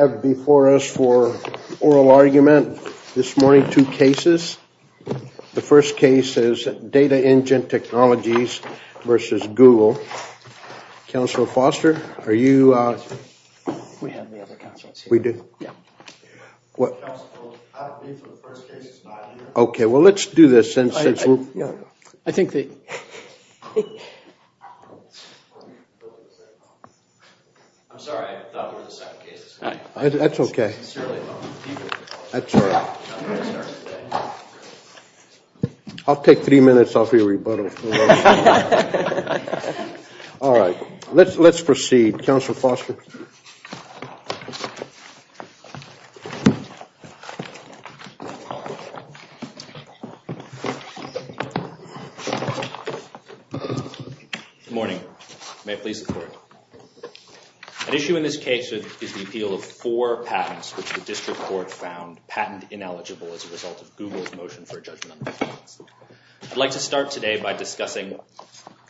have before us for oral argument this morning two cases. The first case is Data Engine Technologies versus Google. Counselor Foster, are you? We have the other counselors here. We do? Yeah. What? I believe the first case is not here. Okay, well let's do this. I'm sorry, I thought it was the second case. That's okay. I'll take three minutes off your rebuttal. All right, let's proceed. Counselor Foster? Good morning. May it please the court. An issue in this case is the appeal of four patents which the district court found patent ineligible as a result of Google's motion for a judgment. I'd like to start today by discussing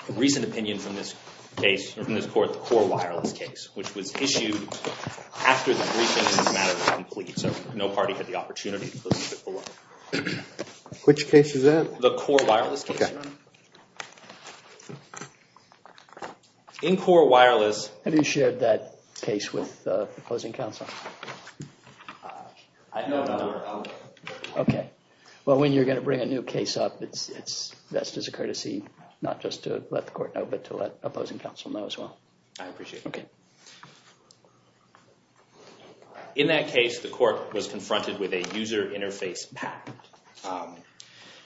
a recent opinion from this case, from this court, the core wireless case, which was issued after the briefings this matter was complete, so no party had the opportunity to close the case. Which case is that? The core wireless case. In core wireless... Have you shared that case with the opposing counsel? No, not at all. Okay, well when you're going to bring a new case up, it's best as a courtesy, not just to let the court know, but to let opposing counsel know as well. I appreciate it. Okay. In that case, the court was confronted with a user interface patent,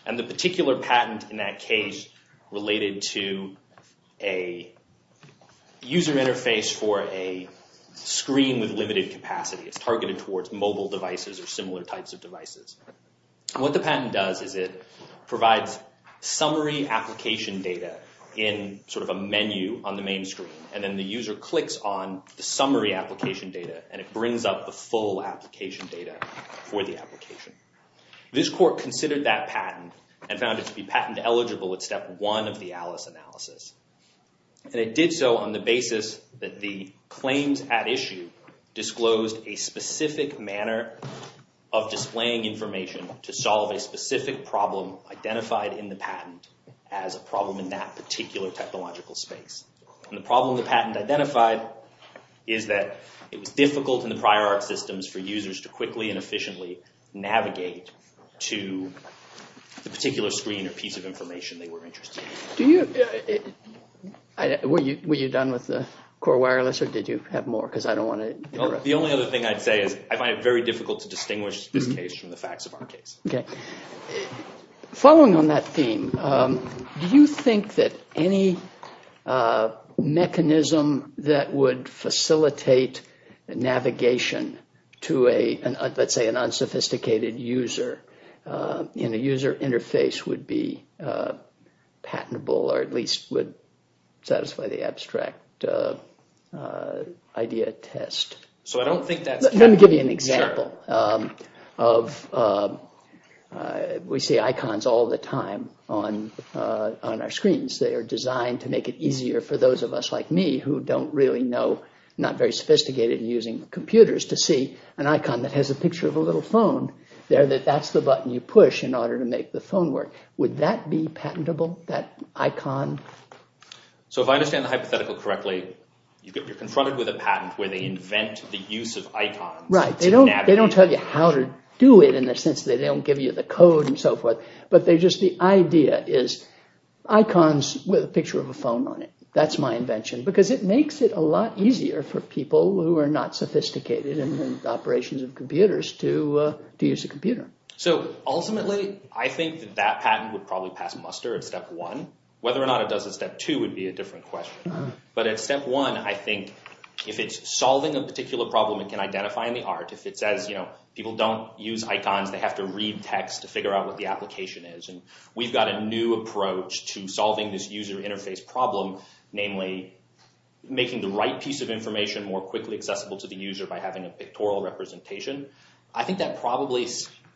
and the particular patent in that case related to a user interface for a screen with limited capacity. It's targeted towards mobile devices or similar types of devices. What the patent does is it provides summary application data in sort of a menu on the main screen, and then the user clicks on the summary application data, and it brings up the full application data for the application. This court considered that patent and found it to be patent eligible at step one of the Alice analysis. It did so on the basis that the claims at issue disclosed a specific manner of displaying information to solve a specific problem identified in the patent as a problem in that particular technological space. The problem the patent identified is that it was difficult in the prior art systems for users to quickly and efficiently navigate to the particular screen or piece of information they were interested in. Were you done with the core wireless, or did you have more because I don't want to interrupt? The only other thing I'd say is I find it very difficult to distinguish this case from the facts of our case. Okay. Following on that theme, do you think that any mechanism that would facilitate navigation to, let's say, an unsophisticated user in a user interface would be patentable, or at least would satisfy the abstract idea test? So I don't think that's... Let me give you an example. We see icons all the time on our screens. They are designed to make it easier for those of us like me who don't really know, not very sophisticated in using computers, to see an icon that has a picture of a little phone there that that's the button you push in order to make the phone work. Would that be patentable, that icon? So if I understand the hypothetical correctly, you're confronted with a patent where they invent the use of icons. Right. They don't tell you how to do it in the sense that they is icons with a picture of a phone on it. That's my invention because it makes it a lot easier for people who are not sophisticated in the operations of computers to use a computer. So ultimately, I think that patent would probably pass muster at step one. Whether or not it does at step two would be a different question. But at step one, I think if it's solving a particular problem, it can identify in the art. If it says people don't use icons, they have to read text to figure out what the application is. And we've got a new approach to solving this user interface problem, namely making the right piece of information more quickly accessible to the user by having a pictorial representation. I think that probably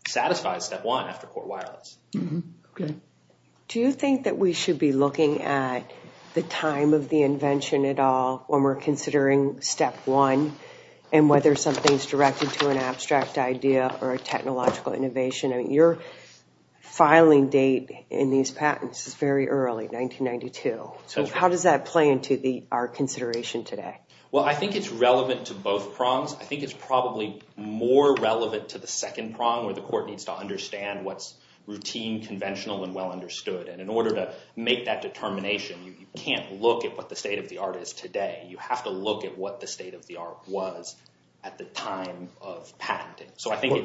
satisfies step one after core wireless. Do you think that we should be looking at the time of the invention at all when we're considering step one and whether something's directed to an abstract idea or a technological innovation? I think the filing date in these patents is very early, 1992. So how does that play into our consideration today? Well, I think it's relevant to both prongs. I think it's probably more relevant to the second prong where the court needs to understand what's routine, conventional, and well understood. And in order to make that determination, you can't look at what the state of the art is today. You have to look at what the state of the art was at the time of patenting.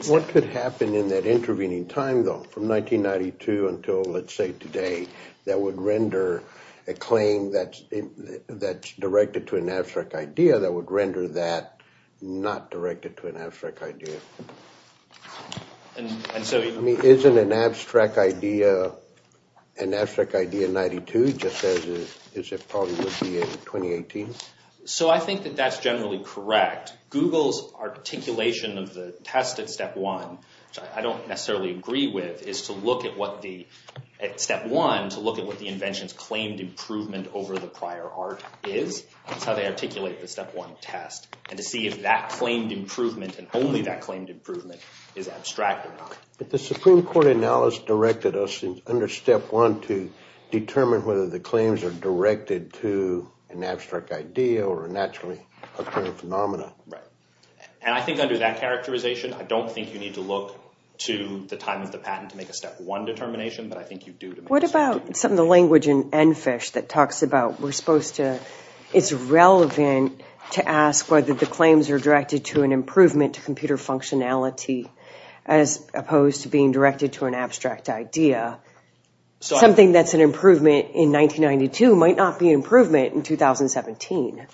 What could happen in that intervening time, though, from 1992 until, let's say, today, that would render a claim that's directed to an abstract idea that would render that not directed to an abstract idea? I mean, isn't an abstract idea an abstract idea in 92 just as it probably would be in 2018? So I think that that's generally correct. Google's articulation of the test at step one I don't necessarily agree with is to look at what the step one to look at what the invention's claimed improvement over the prior art is. That's how they articulate the step one test. And to see if that claimed improvement and only that claimed improvement is abstract or not. But the Supreme Court analysis directed us under step one to determine whether the claims are directed to an abstract idea or a naturally occurring phenomena. Right. And I think under that to the time of the patent to make a step one determination, but I think you do. What about some of the language in EnFish that talks about we're supposed to, it's relevant to ask whether the claims are directed to an improvement to computer functionality as opposed to being directed to an abstract idea. Something that's an improvement in 1992 might not be improvement in 2017.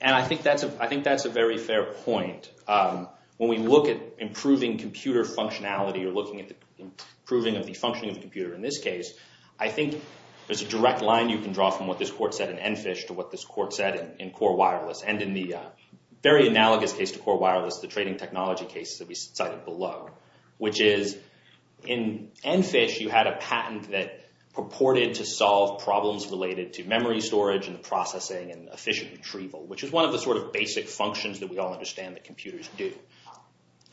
And I think that's a very fair point. When we look at improving computer functionality or looking at the improving of the functioning of the computer in this case, I think there's a direct line you can draw from what this court said in EnFish to what this court said in Core Wireless. And in the very analogous case to Core Wireless, the trading technology case that we cited below, which is in EnFish you had a patent that purported to solve problems related to memory storage and the processing and efficient retrieval, which is one of the sort of basic functions that we all understand that computers do.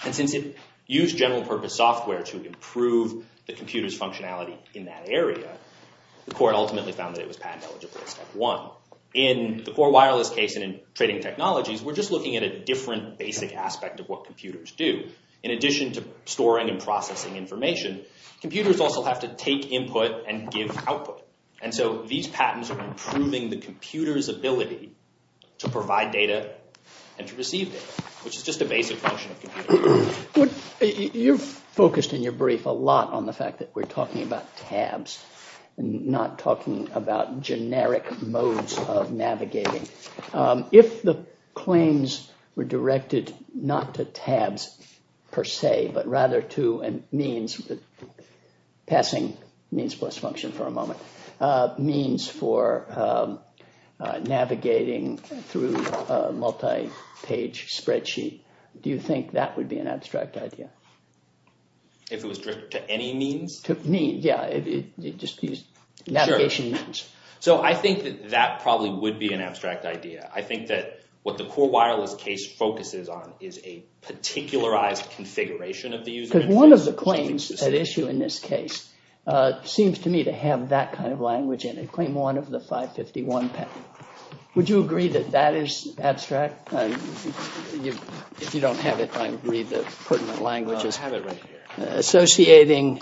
And since it used general purpose software to improve the computer's functionality in that area, the court ultimately found that it was patent eligible as step one. In the Core Wireless case and in trading technologies, we're just looking at a different basic aspect of what computers do. In addition to storing and processing information, computers also have to take input and give output. And so these patents are improving the computer's ability to provide data and to receive data, which is just a basic function of computers. You've focused in your brief a lot on the fact that we're talking about tabs and not talking about generic modes of navigating. If the claims were directed not to tabs per se, but rather to means, passing means plus function for a moment, means for navigating through a multi-page spreadsheet, do you think that would be an abstract idea? If it was directed to any means? To means, yeah. It just used navigation. So I think that that probably would be an abstract idea. I think that what the Core Wireless case focuses on is a particularized configuration of the user interface. Because one of the claims at issue in this case seems to me to have that kind of language in it. Claim one of the 551 patent. Would you agree that that is abstract? If you don't have it, I agree that pertinent language is associating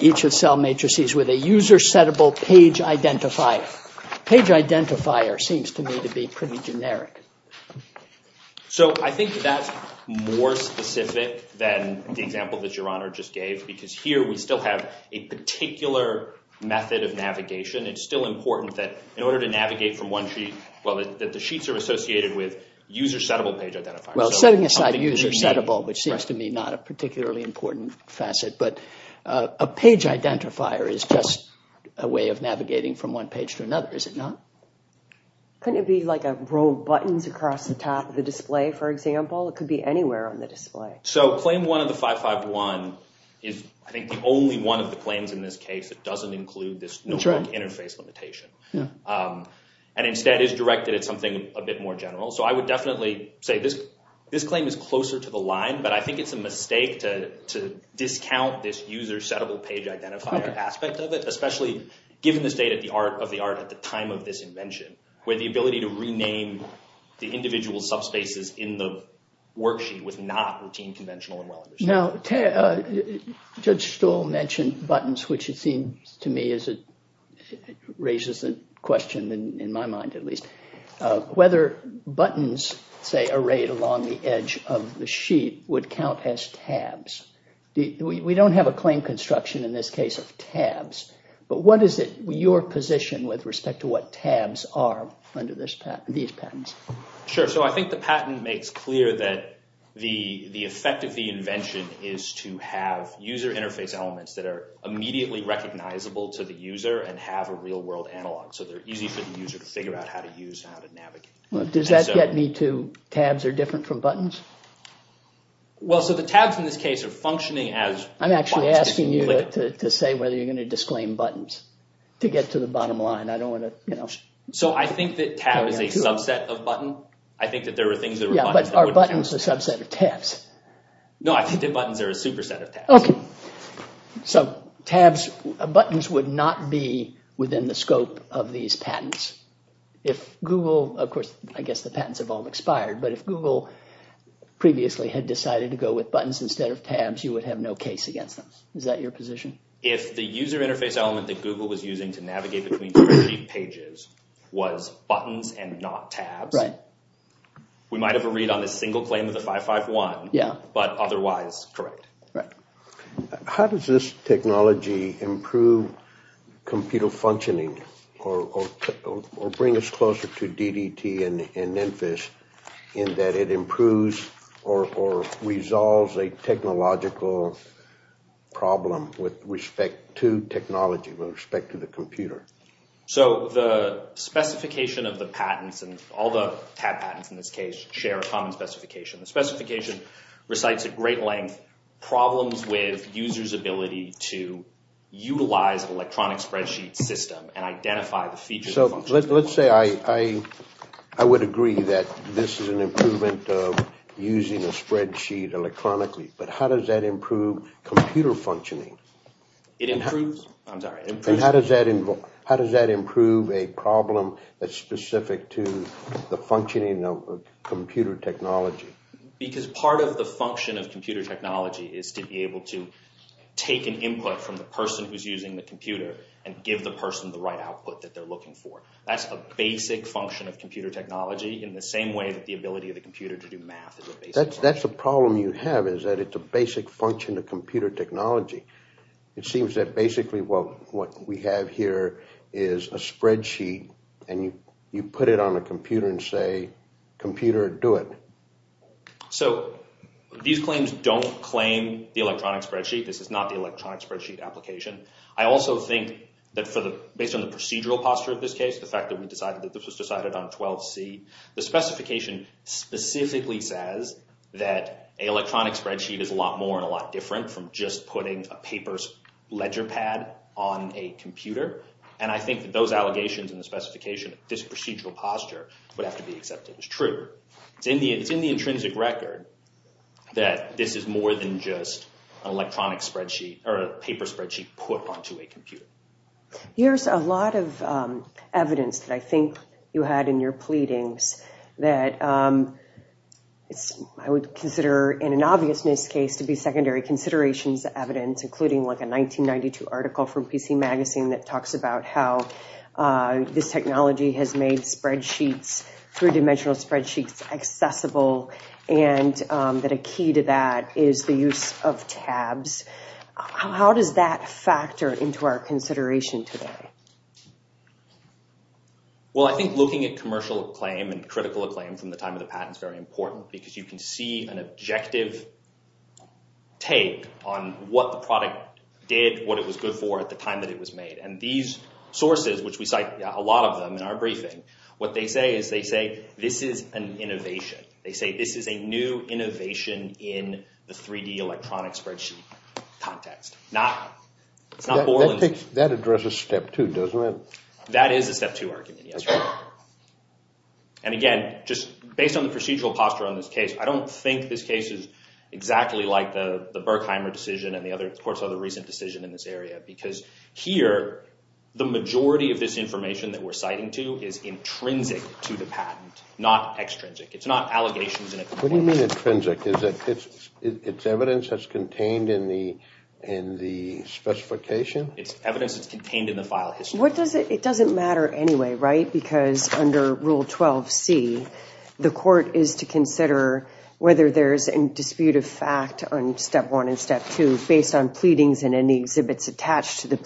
each of cell matrices with a user settable page identifier. Page identifier seems to me to be pretty generic. So I think that's more specific than the example that your honor just gave. Because here we still have a particular method of navigation. It's still important that in order to navigate from one sheet, well that the sheets are associated with user settable page identifiers. Well setting aside the user settable, which seems to me not a particularly important facet, but a page identifier is just a way of navigating from one page to another, is it not? Couldn't it be like row buttons across the top of the display, for example? It could be anywhere on the display. So claim one of the 551 is I think the only one of the claims in this case that doesn't include this interface limitation. And instead is directed at something a bit more general. So I would definitely say this claim is closer to the line, but I think it's a mistake to discount this user settable page identifier aspect of it. Especially given the state of the art at the time of this claim, the individual subspaces in the worksheet was not routine, conventional, and well understood. Now Judge Stuhl mentioned buttons, which it seems to me raises a question, in my mind at least, whether buttons, say arrayed along the edge of the sheet, would count as tabs. We don't have a claim construction in this case of tabs, but what is it your position with respect to what tabs are under these patents? Sure, so I think the patent makes clear that the effect of the invention is to have user interface elements that are immediately recognizable to the user and have a real world analog. So they're easy for the user to figure out how to use, how to navigate. Does that get me to tabs are different from buttons? Well, so the tabs in this case are functioning as... I'm actually asking you to say whether you're going to disclaim buttons to get to the bottom line. I don't want to, you know... So I think that tab is a subset of button. I think that there were things that... Yeah, but are buttons a subset of tabs? No, I think the buttons are a superset of tabs. Okay, so tabs, buttons would not be within the scope of these patents. If Google, of course, I guess the patents have all expired, but if Google previously had decided to go with buttons instead of tabs, you would have no case against them. Is that your position? If the user interface element that Google was using to navigate between pages was buttons and not tabs, we might have a read on this single claim of the 551, but otherwise, correct. How does this technology improve computer functioning or bring us closer to DDT and NINFIS in that it improves or resolves a technological problem with respect to technology, with respect to the computer? So the specification of the patents and all the patents in this case share a common specification. The specification recites at great length problems with users' ability to utilize an electronic spreadsheet system and identify the features. So let's say I would agree that this is an improvement of a spreadsheet electronically, but how does that improve computer functioning? How does that improve a problem that's specific to the functioning of computer technology? Because part of the function of computer technology is to be able to take an input from the person who's using the computer and give the person the right output that they're looking for. That's a basic function of computer technology in the same way that the ability of the computer to do math. That's a problem you have is that it's a basic function of computer technology. It seems that basically what we have here is a spreadsheet and you put it on a computer and say computer do it. So these claims don't claim the electronic spreadsheet. This is not the electronic spreadsheet application. I also think that based on the procedural posture of this case, the fact that we decided that this was decided on 12c, the specification specifically says that an electronic spreadsheet is a lot more and a lot different from just putting a paper ledger pad on a computer. And I think that those allegations and the specification of this procedural posture would have to be accepted as true. It's in the intrinsic record that this is more than just an electronic spreadsheet or a paper spreadsheet put onto a computer. Here's a lot of evidence that I think you had in your pleadings that it's I would consider in an obviousness case to be secondary considerations evidence including like a 1992 article from PC Magazine that talks about how this technology has made spreadsheets three-dimensional spreadsheets accessible and that a key to that is the use of tabs. How does that factor into our consideration today? Well I think looking at commercial acclaim and critical acclaim from the time of the patent is very important because you can see an objective take on what the product did, what it was good for at the time that it was made. And these sources, which we cite a lot of them in our briefing, what they say is they say this is an innovation. They say this is a new innovation in the 3D electronic spreadsheet context. That addresses step two, doesn't it? That is a step two argument, yes. And again just based on the procedural posture on this case, I don't think this case is exactly like the the Berkheimer decision and the other courts other recent decision in this area because here the majority of this information that we're citing to is intrinsic to the patent, not extrinsic. It's not allegations. What do you mean intrinsic? Is it evidence that's contained in the specification? It's evidence that's contained in the file history. What does it it doesn't matter anyway, right? Because under rule 12c the court is to consider whether there's a dispute of fact on step one and step two based on pleadings and any exhibits attached to the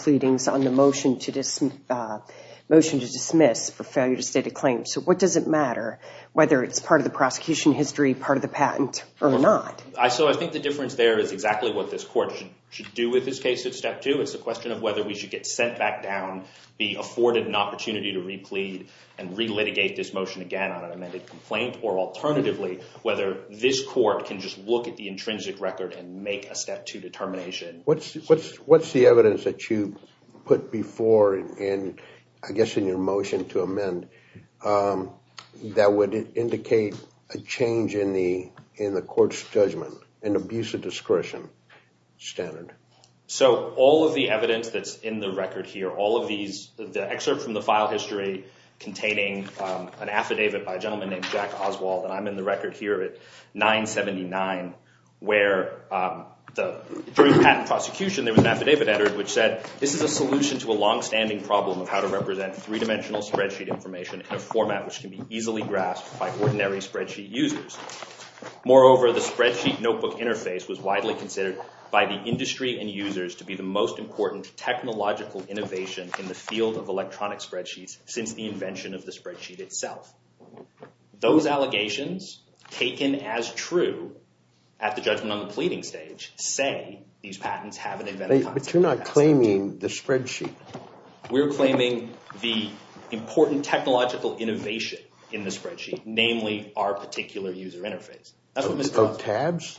whether it's part of the prosecution history, part of the patent or not. So I think the difference there is exactly what this court should do with this case at step two. It's a question of whether we should get sent back down, be afforded an opportunity to replead and re-litigate this motion again on an amended complaint or alternatively whether this court can just look at the intrinsic record and make a step two determination. What's the evidence that you put before and I guess in your motion to amend that would indicate a change in the in the court's judgment and abuse of discretion standard? So all of the evidence that's in the record here, all of these the excerpt from the file history containing an affidavit by a gentleman named Jack Oswald and I'm in the record here at 979 where during the patent prosecution there was an affidavit which said this is a solution to a long-standing problem of how to represent three-dimensional spreadsheet information in a format which can be easily grasped by ordinary spreadsheet users. Moreover the spreadsheet notebook interface was widely considered by the industry and users to be the most important technological innovation in the field of electronic spreadsheets since the invention of the spreadsheet itself. Those allegations taken as true at the judgment on But you're not claiming the spreadsheet. We're claiming the important technological innovation in the spreadsheet namely our particular user interface. So tabs?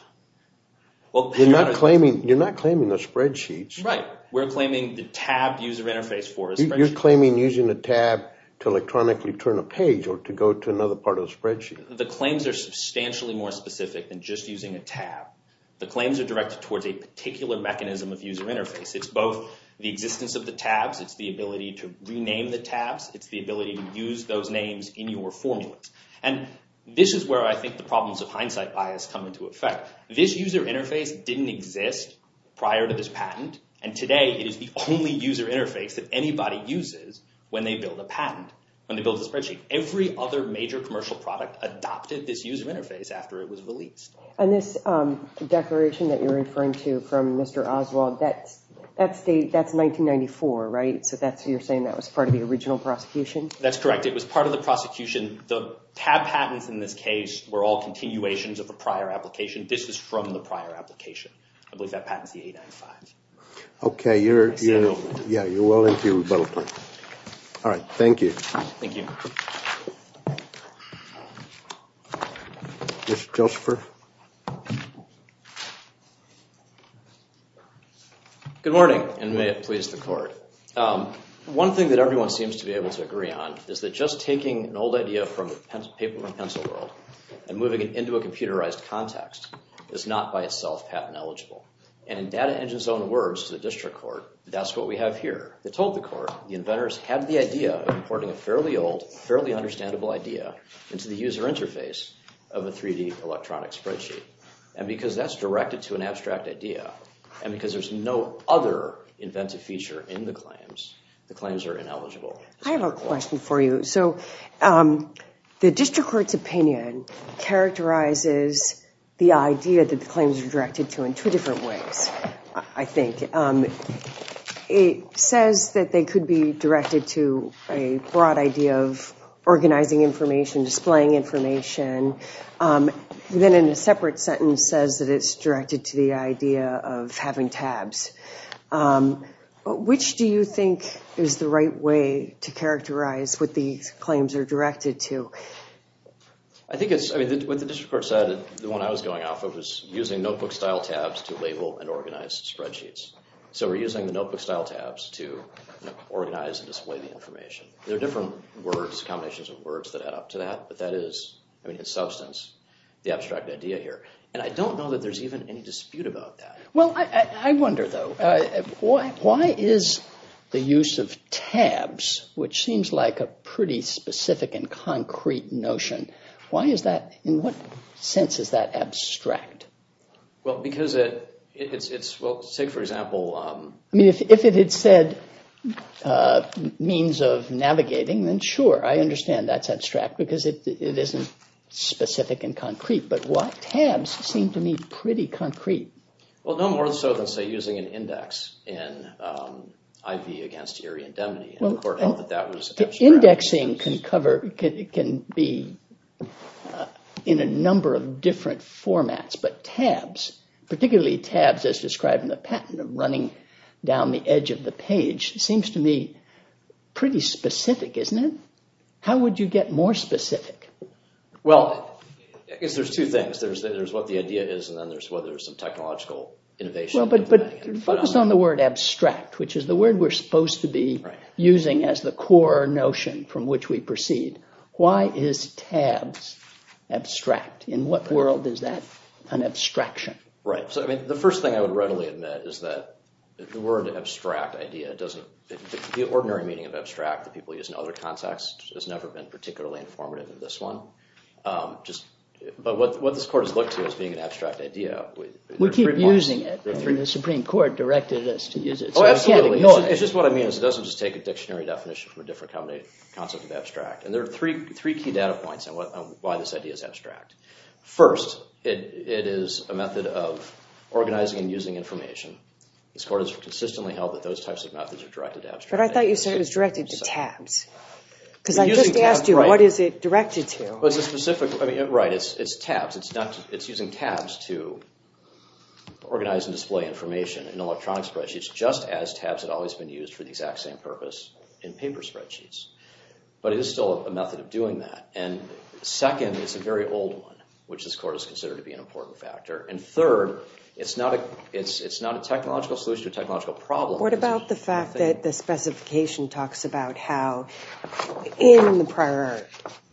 Well you're not claiming you're not claiming the spreadsheets. Right we're claiming the tabbed user interface for you're claiming using the tab to electronically turn a page or to go to another part of the spreadsheet. The claims are substantially more specific than just using a tab. The claims are towards a particular mechanism of user interface. It's both the existence of the tabs. It's the ability to rename the tabs. It's the ability to use those names in your formulas and this is where I think the problems of hindsight bias come into effect. This user interface didn't exist prior to this patent and today it is the only user interface that anybody uses when they build a patent when they build a spreadsheet. Every other major commercial product adopted this user interface after it was released. And this um declaration that you're referring to from Mr. Oswald that's that's the that's 1994 right? So that's you're saying that was part of the original prosecution? That's correct. It was part of the prosecution. The tab patents in this case were all continuations of a prior application. This is from the prior application. I believe that patent is the 895. Okay you're you know yeah you're well into you both. All right thank you. Thank you. Mr. Josepher. Good morning and may it please the court. One thing that everyone seems to be able to agree on is that just taking an old idea from the paper and pencil world and moving it into a computerized context is not by itself patent eligible. And in Data Engine's own words to the district court that's what we have here. They told the court the inventors had the idea of importing a fairly old fairly understandable idea into the user interface of a 3D electronic spreadsheet. And because that's directed to an abstract idea and because there's no other inventive feature in the claims the claims are ineligible. I have a question for you. So um the district court's characterizes the idea that the claims are directed to in two different ways. I think it says that they could be directed to a broad idea of organizing information, displaying information. Then in a separate sentence says that it's directed to the idea of having tabs. Which do you think is the right way to characterize what these claims are directed to? I think it's I mean what the district court said the one I was going off of was using notebook style tabs to label and organize spreadsheets. So we're using the notebook style tabs to organize and display the information. There are different words combinations of words that add up to that but that is I mean in substance the abstract idea here. And I don't know that there's even any dispute about that. Well I wonder though why is the use of tabs which seems like a pretty specific and concrete notion. Why is that in what sense is that abstract? Well because it it's it's well say for example um I mean if it had said uh means of navigating then sure I understand that's abstract because it it isn't specific and concrete. But what tabs seem to me pretty concrete? Well no more so than say be in a number of different formats. But tabs particularly tabs as described in the patent of running down the edge of the page seems to me pretty specific isn't it? How would you get more specific? Well I guess there's two things. There's there's what the idea is and then there's whether there's some technological innovation. But focused on the word abstract which is the core notion from which we proceed. Why is tabs abstract? In what world is that an abstraction? Right so I mean the first thing I would readily admit is that the word abstract idea doesn't the ordinary meaning of abstract that people use in other contexts has never been particularly informative in this one. Um just but what what this court has looked to as being an abstract idea. We keep using it from the Supreme Court directed us to use it. Oh absolutely it's just what I mean is it doesn't just take a dictionary definition from a different company concept of abstract. And there are three three key data points on what why this idea is abstract. First it it is a method of organizing and using information. This court has consistently held that those types of methods are directed to abstract. But I thought you said it was directed to tabs because I just asked you what is it directed to? It's a specific I mean right it's it's tabs it's not it's using tabs to organize and display information in electronic spreadsheets just as tabs had always been used for the exact same purpose in paper spreadsheets. But it is still a method of doing that and second it's a very old one which this court is considered to be an important factor. And third it's not a it's it's not a technological solution or technological problem. What about the fact that the specification talks about how in the prior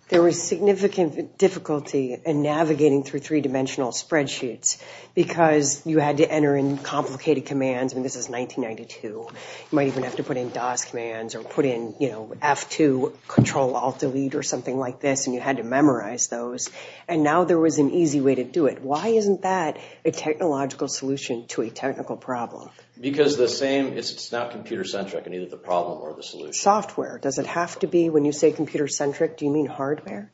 there was significant difficulty in navigating through three-dimensional spreadsheets because you had to enter in complicated commands and this is 1992 you might even have to put in dos commands or put in you know f2 control alt delete or something like this and you had to memorize those and now there was an easy way to do it. Why isn't that a technological solution to a technical problem? Because the same it's it's not computer centric and either the problem or the solution. Software does it have to be when you say computer centric do you mean hardware?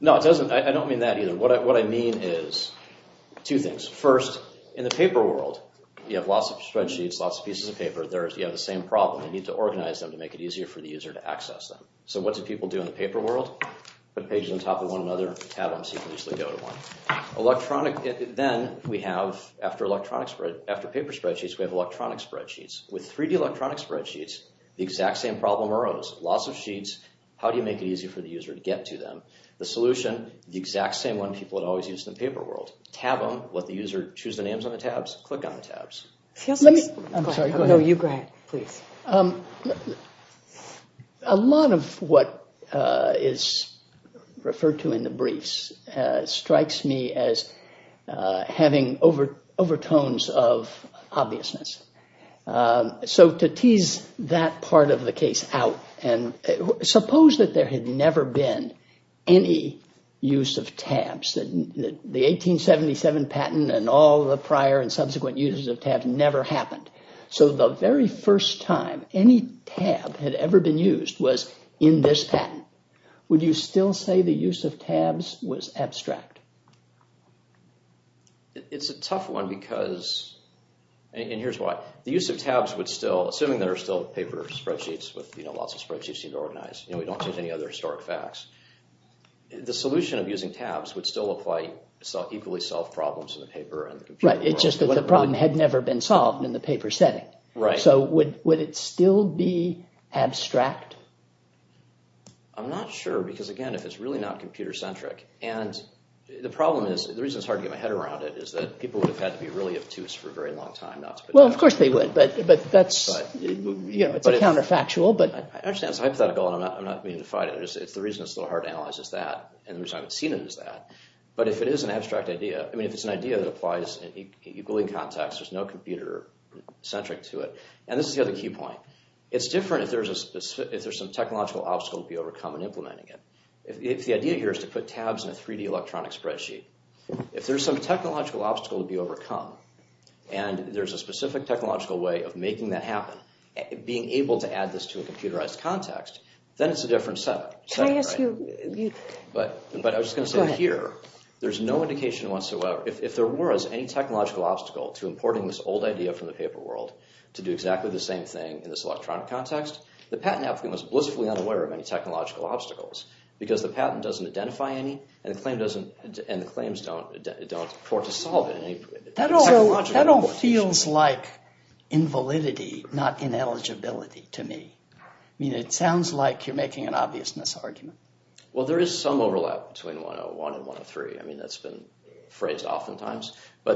No it doesn't I don't mean that either what I what I piece of paper there's you have the same problem you need to organize them to make it easier for the user to access them. So what do people do in the paper world? Put pages on top of one another tab them so you can easily go to one. Electronic then we have after electronic spread after paper spreadsheets we have electronic spreadsheets. With 3d electronic spreadsheets the exact same problem arose. Lots of sheets. How do you make it easy for the user to get to them? The solution the exact same one people had always used in the paper world. Tab them. Let the user choose the click on the tabs. A lot of what is referred to in the briefs strikes me as having over overtones of obviousness. So to tease that part of the case out and suppose that there had never been any use of tabs that the 1877 patent and all the prior and subsequent uses of tabs never happened. So the very first time any tab had ever been used was in this patent. Would you still say the use of tabs was abstract? It's a tough one because and here's why the use of tabs would still assuming that are still paper spreadsheets with you know lots of spreadsheets seem to organize you know any other historic facts. The solution of using tabs would still apply so equally solve problems in the paper. Right it's just that the problem had never been solved in the paper setting. Right. So would it still be abstract? I'm not sure because again if it's really not computer centric and the problem is the reason it's hard to get my head around it is that people would have had to be really obtuse for a very long time. Well of course they would but but that's you know it's a counterfactual but I understand it's hypothetical and I'm not I'm not being defied it's the reason it's so hard to analyze is that and the reason I haven't seen it is that. But if it is an abstract idea I mean if it's an idea that applies equally in context there's no computer centric to it and this is the other key point. It's different if there's a specific if there's some technological obstacle to be overcome in implementing it. If the idea here is to put tabs in a 3d electronic spreadsheet if there's some technological obstacle to be overcome and there's a specific technological way of making that happen being able to add this to a computerized context then it's a different setup. But I was just going to say here there's no indication whatsoever if there were as any technological obstacle to importing this old idea from the paper world to do exactly the same thing in this electronic context the patent applicant was blissfully unaware of any technological obstacles because the patent doesn't identify any and the claims don't don't afford to solve it. That all feels like invalidity not ineligibility to me. I mean it sounds like you're making an obviousness argument. Well there is some overlap between 101 and 103 I mean that's been phrased oftentimes.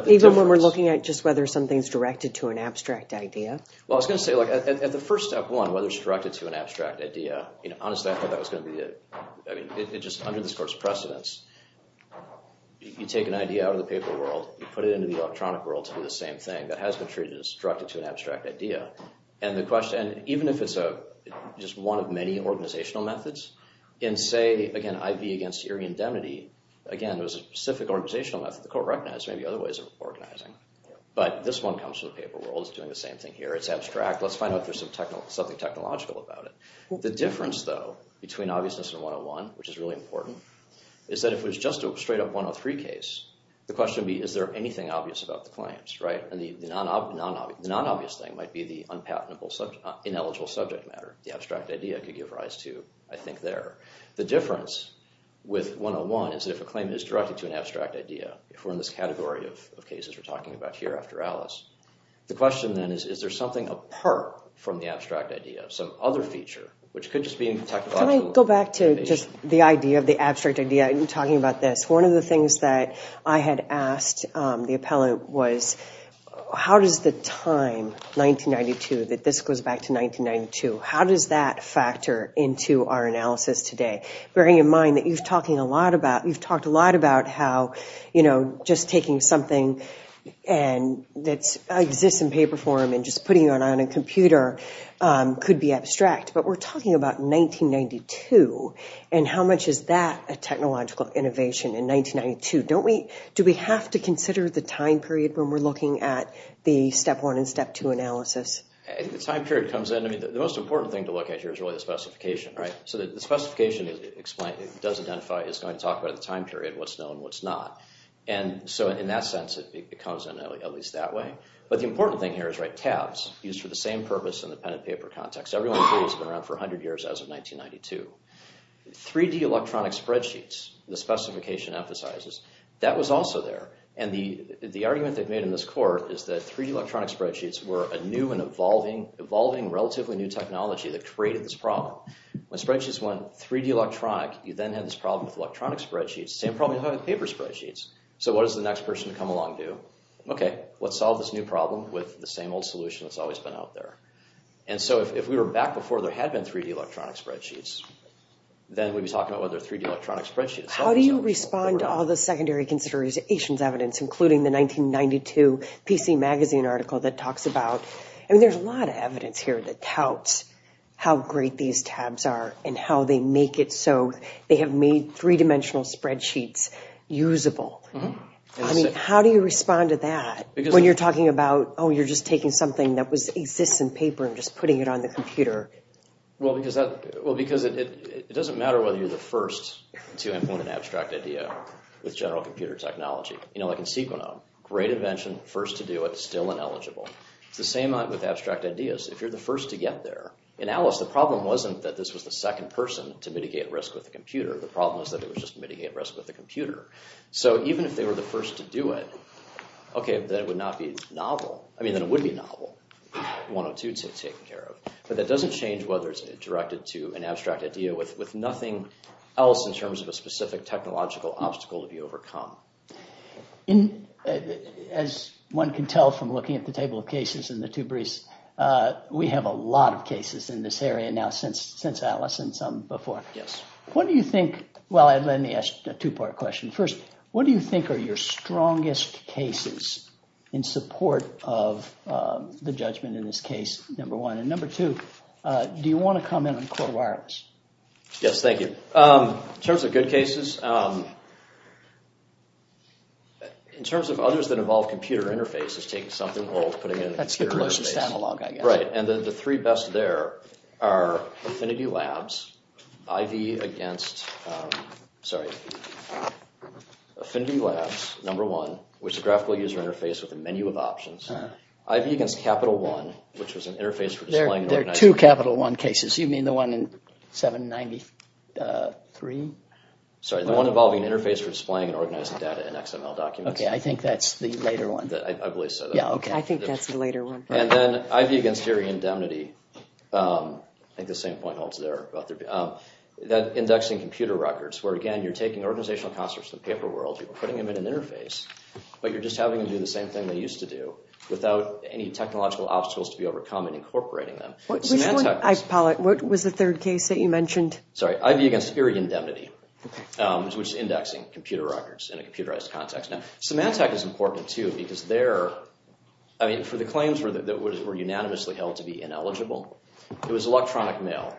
Even when we're looking at just whether something's directed to an abstract idea? Well I was going to say like at the first step one whether it's directed to an abstract idea you know honestly I thought that was going to be it I mean it just under this court's precedence you take an idea out of the paper world you put it into the electronic world to do the same thing that has been treated as directed to an abstract idea and the question and even if it's a just one of many organizational methods in say again IV against irredentity again it was a specific organizational method the court recognized maybe other ways of organizing but this one comes from the paper world it's doing the same thing here it's abstract let's find out there's some technical something technological about it. The difference though between obviousness and 101 which is really important is that if it's just a straight up 103 case the question would be is there anything obvious about the claims right and the non-obvious thing might be the unpatentable ineligible subject matter the abstract idea could give rise to I think there. The difference with 101 is that if a claim is directed to an abstract idea if we're in this category of cases we're talking about here after Alice the question then is is there something apart from the abstract idea some other feature which could just be in technology. Can I go back to just the idea of the abstract idea you're talking about this one of the things that I had asked the appellant was how does the time 1992 that this goes back to 1992 how does that factor into our analysis today bearing in mind that you've talking a lot about you've talked a lot about how you know just taking something and that exists in paper form and just putting it on a computer could be abstract but we're talking about 1992 and how much is that a technological innovation in 1992 don't we do we have to consider the time period when we're looking at the step one and step two analysis. I think the time period comes in I mean the most important thing to look at here is really the specification right so the specification is explained it does identify it's going to talk about the time period what's known what's not and so in that sense it becomes at least that way but the important thing here is right tabs used for the same purpose in the pen and paper context everyone has been around for 100 years as of 1992. 3d electronic spreadsheets the specification emphasizes that was also there and the the argument they've made in this court is that 3d electronic spreadsheets were a new and evolving evolving relatively new technology that created this problem when spreadsheets went 3d electronic you then had this problem with electronic spreadsheets same problem having paper spreadsheets so what does the next person come along do okay let's solve this new problem with the same old solution that's always been out there and so if we were back before there had been 3d electronic spreadsheets then we'd be talking about whether 3d electronic spreadsheets how do you respond to all the secondary considerations evidence including the 1992 pc magazine article that talks about I mean there's a lot of evidence here that touts how great these tabs are and how they make it so they have made three-dimensional spreadsheets usable I mean how do you respond to that because when you're talking about oh you're just taking something that was exists in paper and just putting it on the computer well because that well because it it doesn't matter whether you're the first to implement an abstract idea with general computer technology you know like in sequenom great invention first to do it still ineligible it's the same with abstract ideas if you're the first to get there in alice the problem wasn't that this was the second person to mitigate risk with the computer the problem is that it was just mitigating risk with the computer so even if they were the first to do it okay then it would not be novel I mean then it would be novel 102 to take care of but that doesn't change whether it's directed to an abstract idea with with nothing else in terms of a specific technological obstacle to be overcome in as one can tell from looking at the table of cases in the two briefs uh we have a lot of cases in this area now since since alice and some before yes what do you think well let me ask a two-part question first what do you think are your strongest cases in support of uh the judgment in this case number one and number two uh do you want to comment on core wireless yes thank you um in terms of good cases um in terms of others that involve computer interface is taking something old putting it analog i guess right and the three best there are affinity labs iv against um sorry affinity labs number one which is graphical user interface with a menu of options iv against capital one which was an interface for there are two capital one cases you mean the one in 793 uh three sorry the one involving an interface for displaying and organizing data okay i think that's the later one that i believe so yeah okay i think that's the later one and then iv against iri indemnity um i think the same point holds there about there um that indexing computer records where again you're taking organizational concepts in the paper world you're putting them in an interface but you're just having to do the same thing they used to do without any technological obstacles to be overcome and incorporating them what was the third case that you mentioned sorry iv against iri indemnity which is indexing computer records in a computerized context now semantec is important too because they're i mean for the claims were that were unanimously held to be ineligible it was electronic mail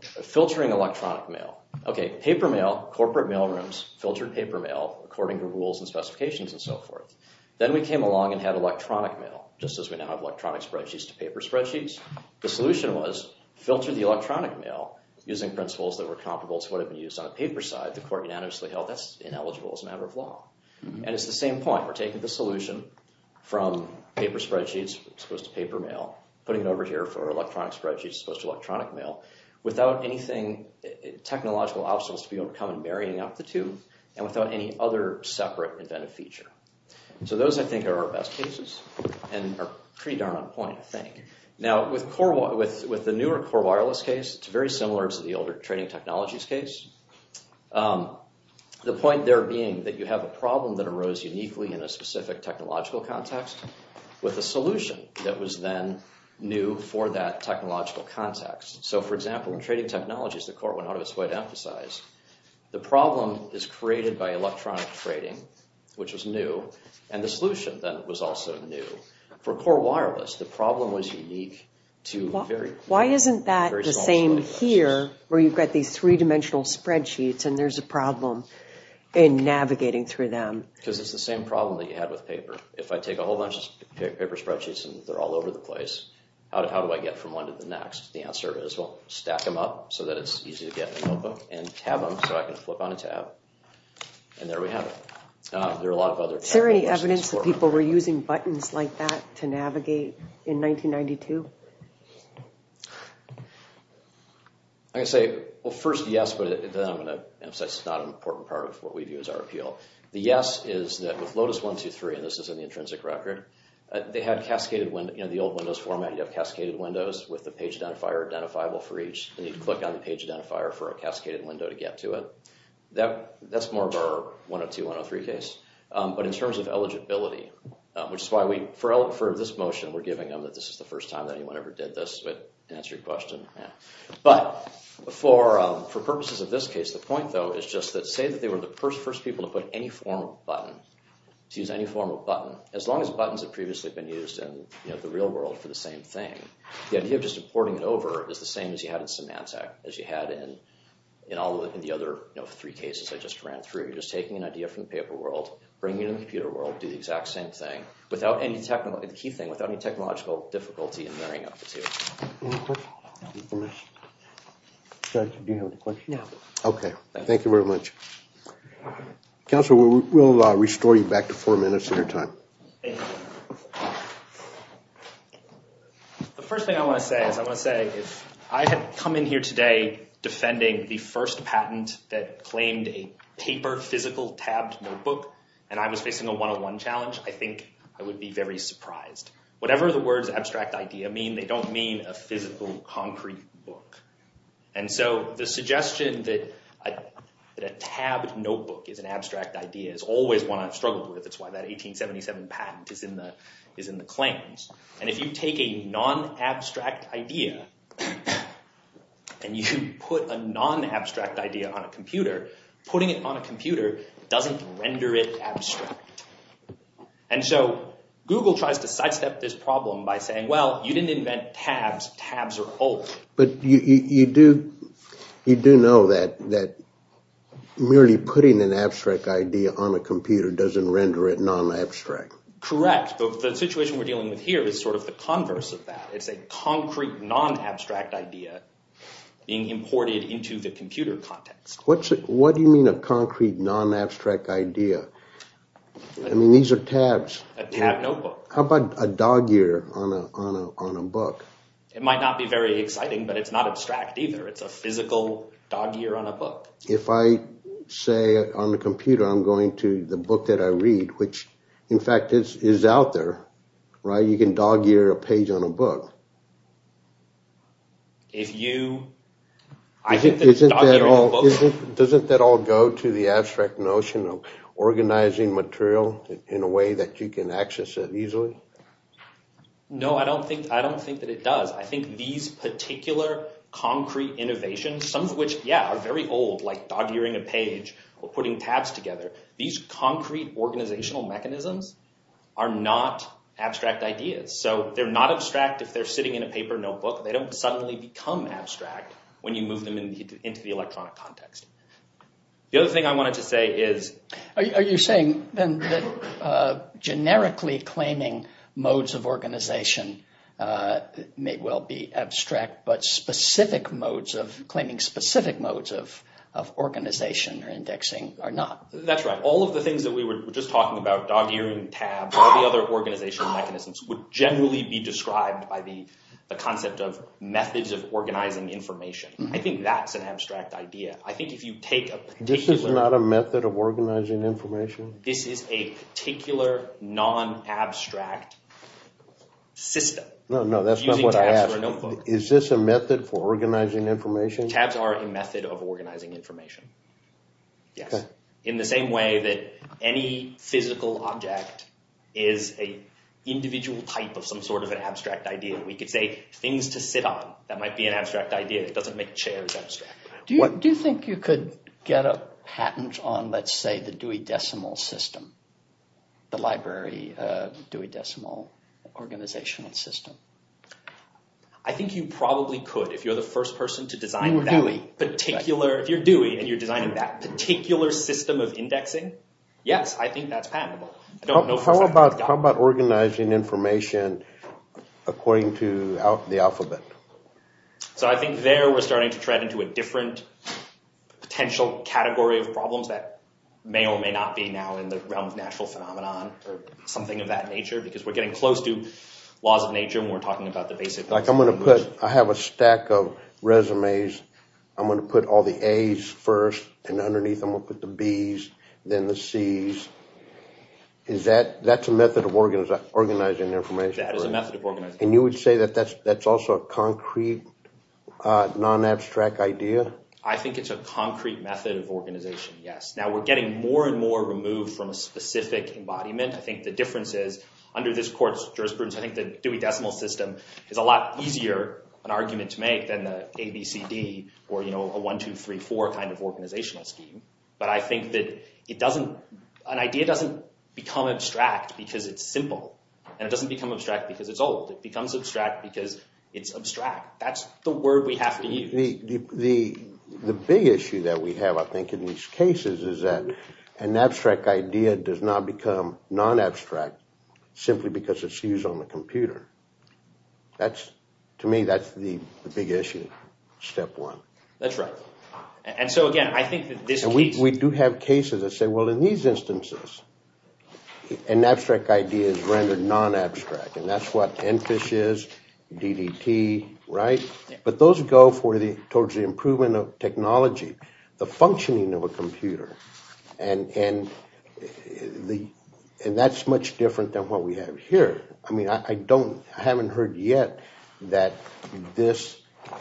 filtering electronic mail okay paper mail corporate mail rooms filtered paper mail according to rules and specifications and so forth then we came along and had electronic mail just as we now have electronic spreadsheets to paper spreadsheets the solution was filter the electronic mail using principles that were comparable to what had been used on the paper side the court unanimously held that's ineligible as a matter of law and it's the same point we're taking the solution from paper spreadsheets supposed to paper mail putting it over here for electronic spreadsheets supposed to electronic mail without anything technological obstacles to be overcome and marrying up the two and without any other separate inventive feature so those i think are our best cases and are pretty darn on point i think now with core with with the newer core wireless case it's very similar to the older trading technologies case the point there being that you have a problem that arose uniquely in a specific technological context with a solution that was then new for that technological context so for example in trading technologies the court went out of its way to emphasize the problem is created by electronic trading which was new and the solution then was also new for core wireless the problem was unique to very why isn't that the same here where you've got these three-dimensional spreadsheets and there's a problem in navigating through them because it's the same problem that you had with paper if i take a whole bunch of paper spreadsheets and they're all over the place how do i get from one to the next the answer is well stack them up so that it's easy to get a notebook and tab them so i can flip on a tab and there we have it there are a lot of other is there any evidence that people were using buttons like that to navigate in 1992 i can say well first yes but then i'm going to emphasize it's not an important part of what we do as our appeal the yes is that with lotus one two three and this is an intrinsic record they had cascaded when you know the old windows format you have cascaded windows with the page identifier identifiable for each and you click on the page identifier for a cascaded window to get to it that that's more of our 102 103 case um but in terms of eligibility which is why we for this motion we're giving them that this is the first time that anyone ever did this but to answer your question but for um for purposes of this case the point though is just that say that they were the first first people to put any form of button to use any form of button as long as buttons have previously been used in you know the real world for the same thing the idea of importing it over is the same as you had in Symantec as you had in in all the other you know three cases i just ran through you're just taking an idea from the paper world bringing it in the computer world do the exact same thing without any technical the key thing without any technological difficulty in marrying up the two okay thank you very much council will restore you back to four your time the first thing i want to say is i want to say if i had come in here today defending the first patent that claimed a paper physical tabbed notebook and i was facing a one-on-one challenge i think i would be very surprised whatever the words abstract idea mean they don't mean a physical concrete book and so the suggestion that i that a tabbed notebook is an abstract idea is always one i've struggled with it's why that 1877 patent is in the is in the claims and if you take a non-abstract idea and you put a non-abstract idea on a computer putting it on a computer doesn't render it abstract and so google tries to sidestep this problem by saying well you didn't invent tabs tabs are old but you you do you do know that that merely putting an abstract idea on a computer doesn't render it non-abstract correct but the situation we're dealing with here is sort of the converse of that it's a concrete non-abstract idea being imported into the computer context what's it what do you mean a concrete non-abstract idea i mean these are tabs a tab notebook how about a dog ear on a on a on a book it might not be very to the book that i read which in fact is is out there right you can dog ear a page on a book if you i think isn't that all isn't doesn't that all go to the abstract notion of organizing material in a way that you can access it easily no i don't think i don't think that it does i think these particular concrete innovations some of which yeah are these concrete organizational mechanisms are not abstract ideas so they're not abstract if they're sitting in a paper notebook they don't suddenly become abstract when you move them into the electronic context the other thing i wanted to say is are you saying then that uh generically claiming modes of organization uh may well be abstract but specific modes of claiming specific modes of of organization or indexing are not that's right all of the things that we were just talking about dog ear and tabs all the other organizational mechanisms would generally be described by the the concept of methods of organizing information i think that's an abstract idea i think if you take a this is not a method of organizing information this is a particular non-abstract system no no that's not what i have is this a method for organizing information tabs are a method of organizing information yes in the same way that any physical object is a individual type of some sort of an abstract idea we could say things to sit on that might be an abstract idea it doesn't make chairs abstract what do you think you could get a patent on let's say the dewey decimal system the library uh dewey decimal organizational system i think you probably could if you're the first person to design that particular if you're dewey and you're designing that particular system of indexing yes i think that's patentable i don't know how about how about organizing information according to the alphabet so i think there we're starting to tread into a different potential category of problems that may or may not be now in the realm of natural phenomenon or something of that nature because we're getting close to laws of nature and we're resumes i'm going to put all the a's first and underneath i'm gonna put the b's then the c's is that that's a method of organizing information that is a method of organizing and you would say that that's that's also a concrete uh non-abstract idea i think it's a concrete method of organization yes now we're getting more and more removed from a specific embodiment i think the difference is under this court's jurisprudence i think the dewey decimal system is a lot easier an argument to make than the abcd or you know a one two three four kind of organizational scheme but i think that it doesn't an idea doesn't become abstract because it's simple and it doesn't become abstract because it's old it becomes abstract because it's abstract that's the word we have to use the the the big issue that we have i think in these cases is that an abstract idea does not become non-abstract simply because it's used on the computer that's to me that's the big issue step one that's right and so again i think that this week we do have cases that say well in these instances an abstract idea is rendered non-abstract and that's what n fish is ddt right but those go for the towards the improvement of technology the functioning of a computer and and the and that's much different than what we have here i mean i don't i haven't heard yet that this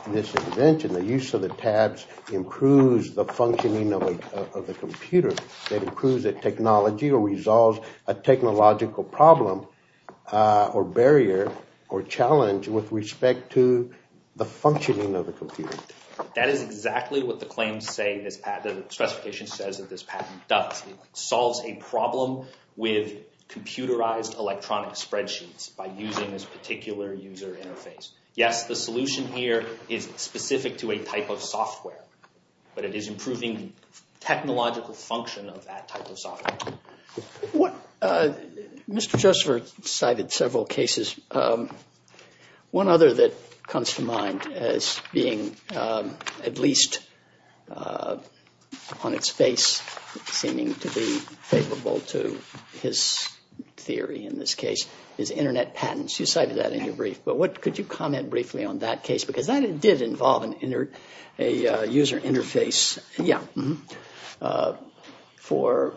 this invention the use of the tabs improves the functioning of the computer that improves the technology or resolves a technological problem uh or barrier or challenge with respect to the functioning of the computer that is exactly what the claims say this patent specification says that this patent does it solves a problem with computerized electronic spreadsheets by using this particular user interface yes the solution here is specific to a type of software but it is improving the technological function of that type of software what uh mr josepher cited several cases um one other that comes to mind as being um at least on its face seeming to be favorable to his theory in this case is internet patents you cited that in your brief but what could you comment briefly on that case because that did involve an inner a user interface yeah uh for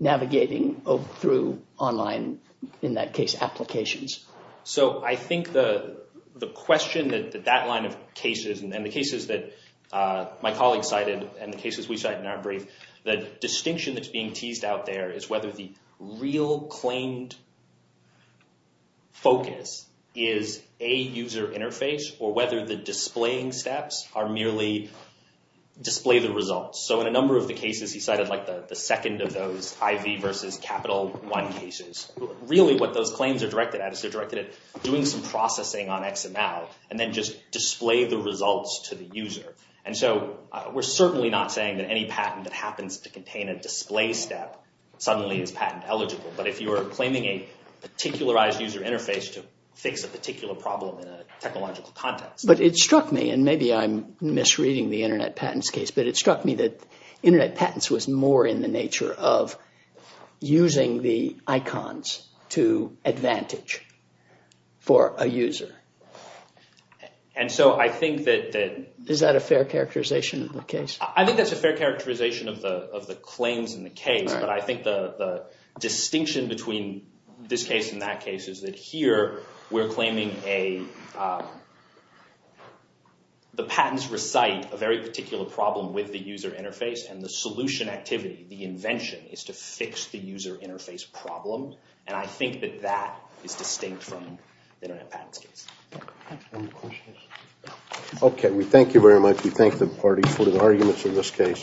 navigating through online in that case applications so i think the the question that that line of cases and the cases that uh my colleague cited and the cases we cite in our brief the distinction that's being teased out there is whether the display the results so in a number of the cases he cited like the the second of those iv versus capital one cases really what those claims are directed at is they're directed at doing some processing on xml and then just display the results to the user and so we're certainly not saying that any patent that happens to contain a display step suddenly is patent eligible but if you are claiming a particularized user interface to fix a particular problem in a case but it struck me that internet patents was more in the nature of using the icons to advantage for a user and so i think that that is that a fair characterization of the case i think that's a fair characterization of the of the claims in the case but i think the the distinction between this case in that case is that here we're claiming a the patents recite a very particular problem with the user interface and the solution activity the invention is to fix the user interface problem and i think that that is distinct from the internet patents case okay we thank you very much we thank the parties for the arguments in this case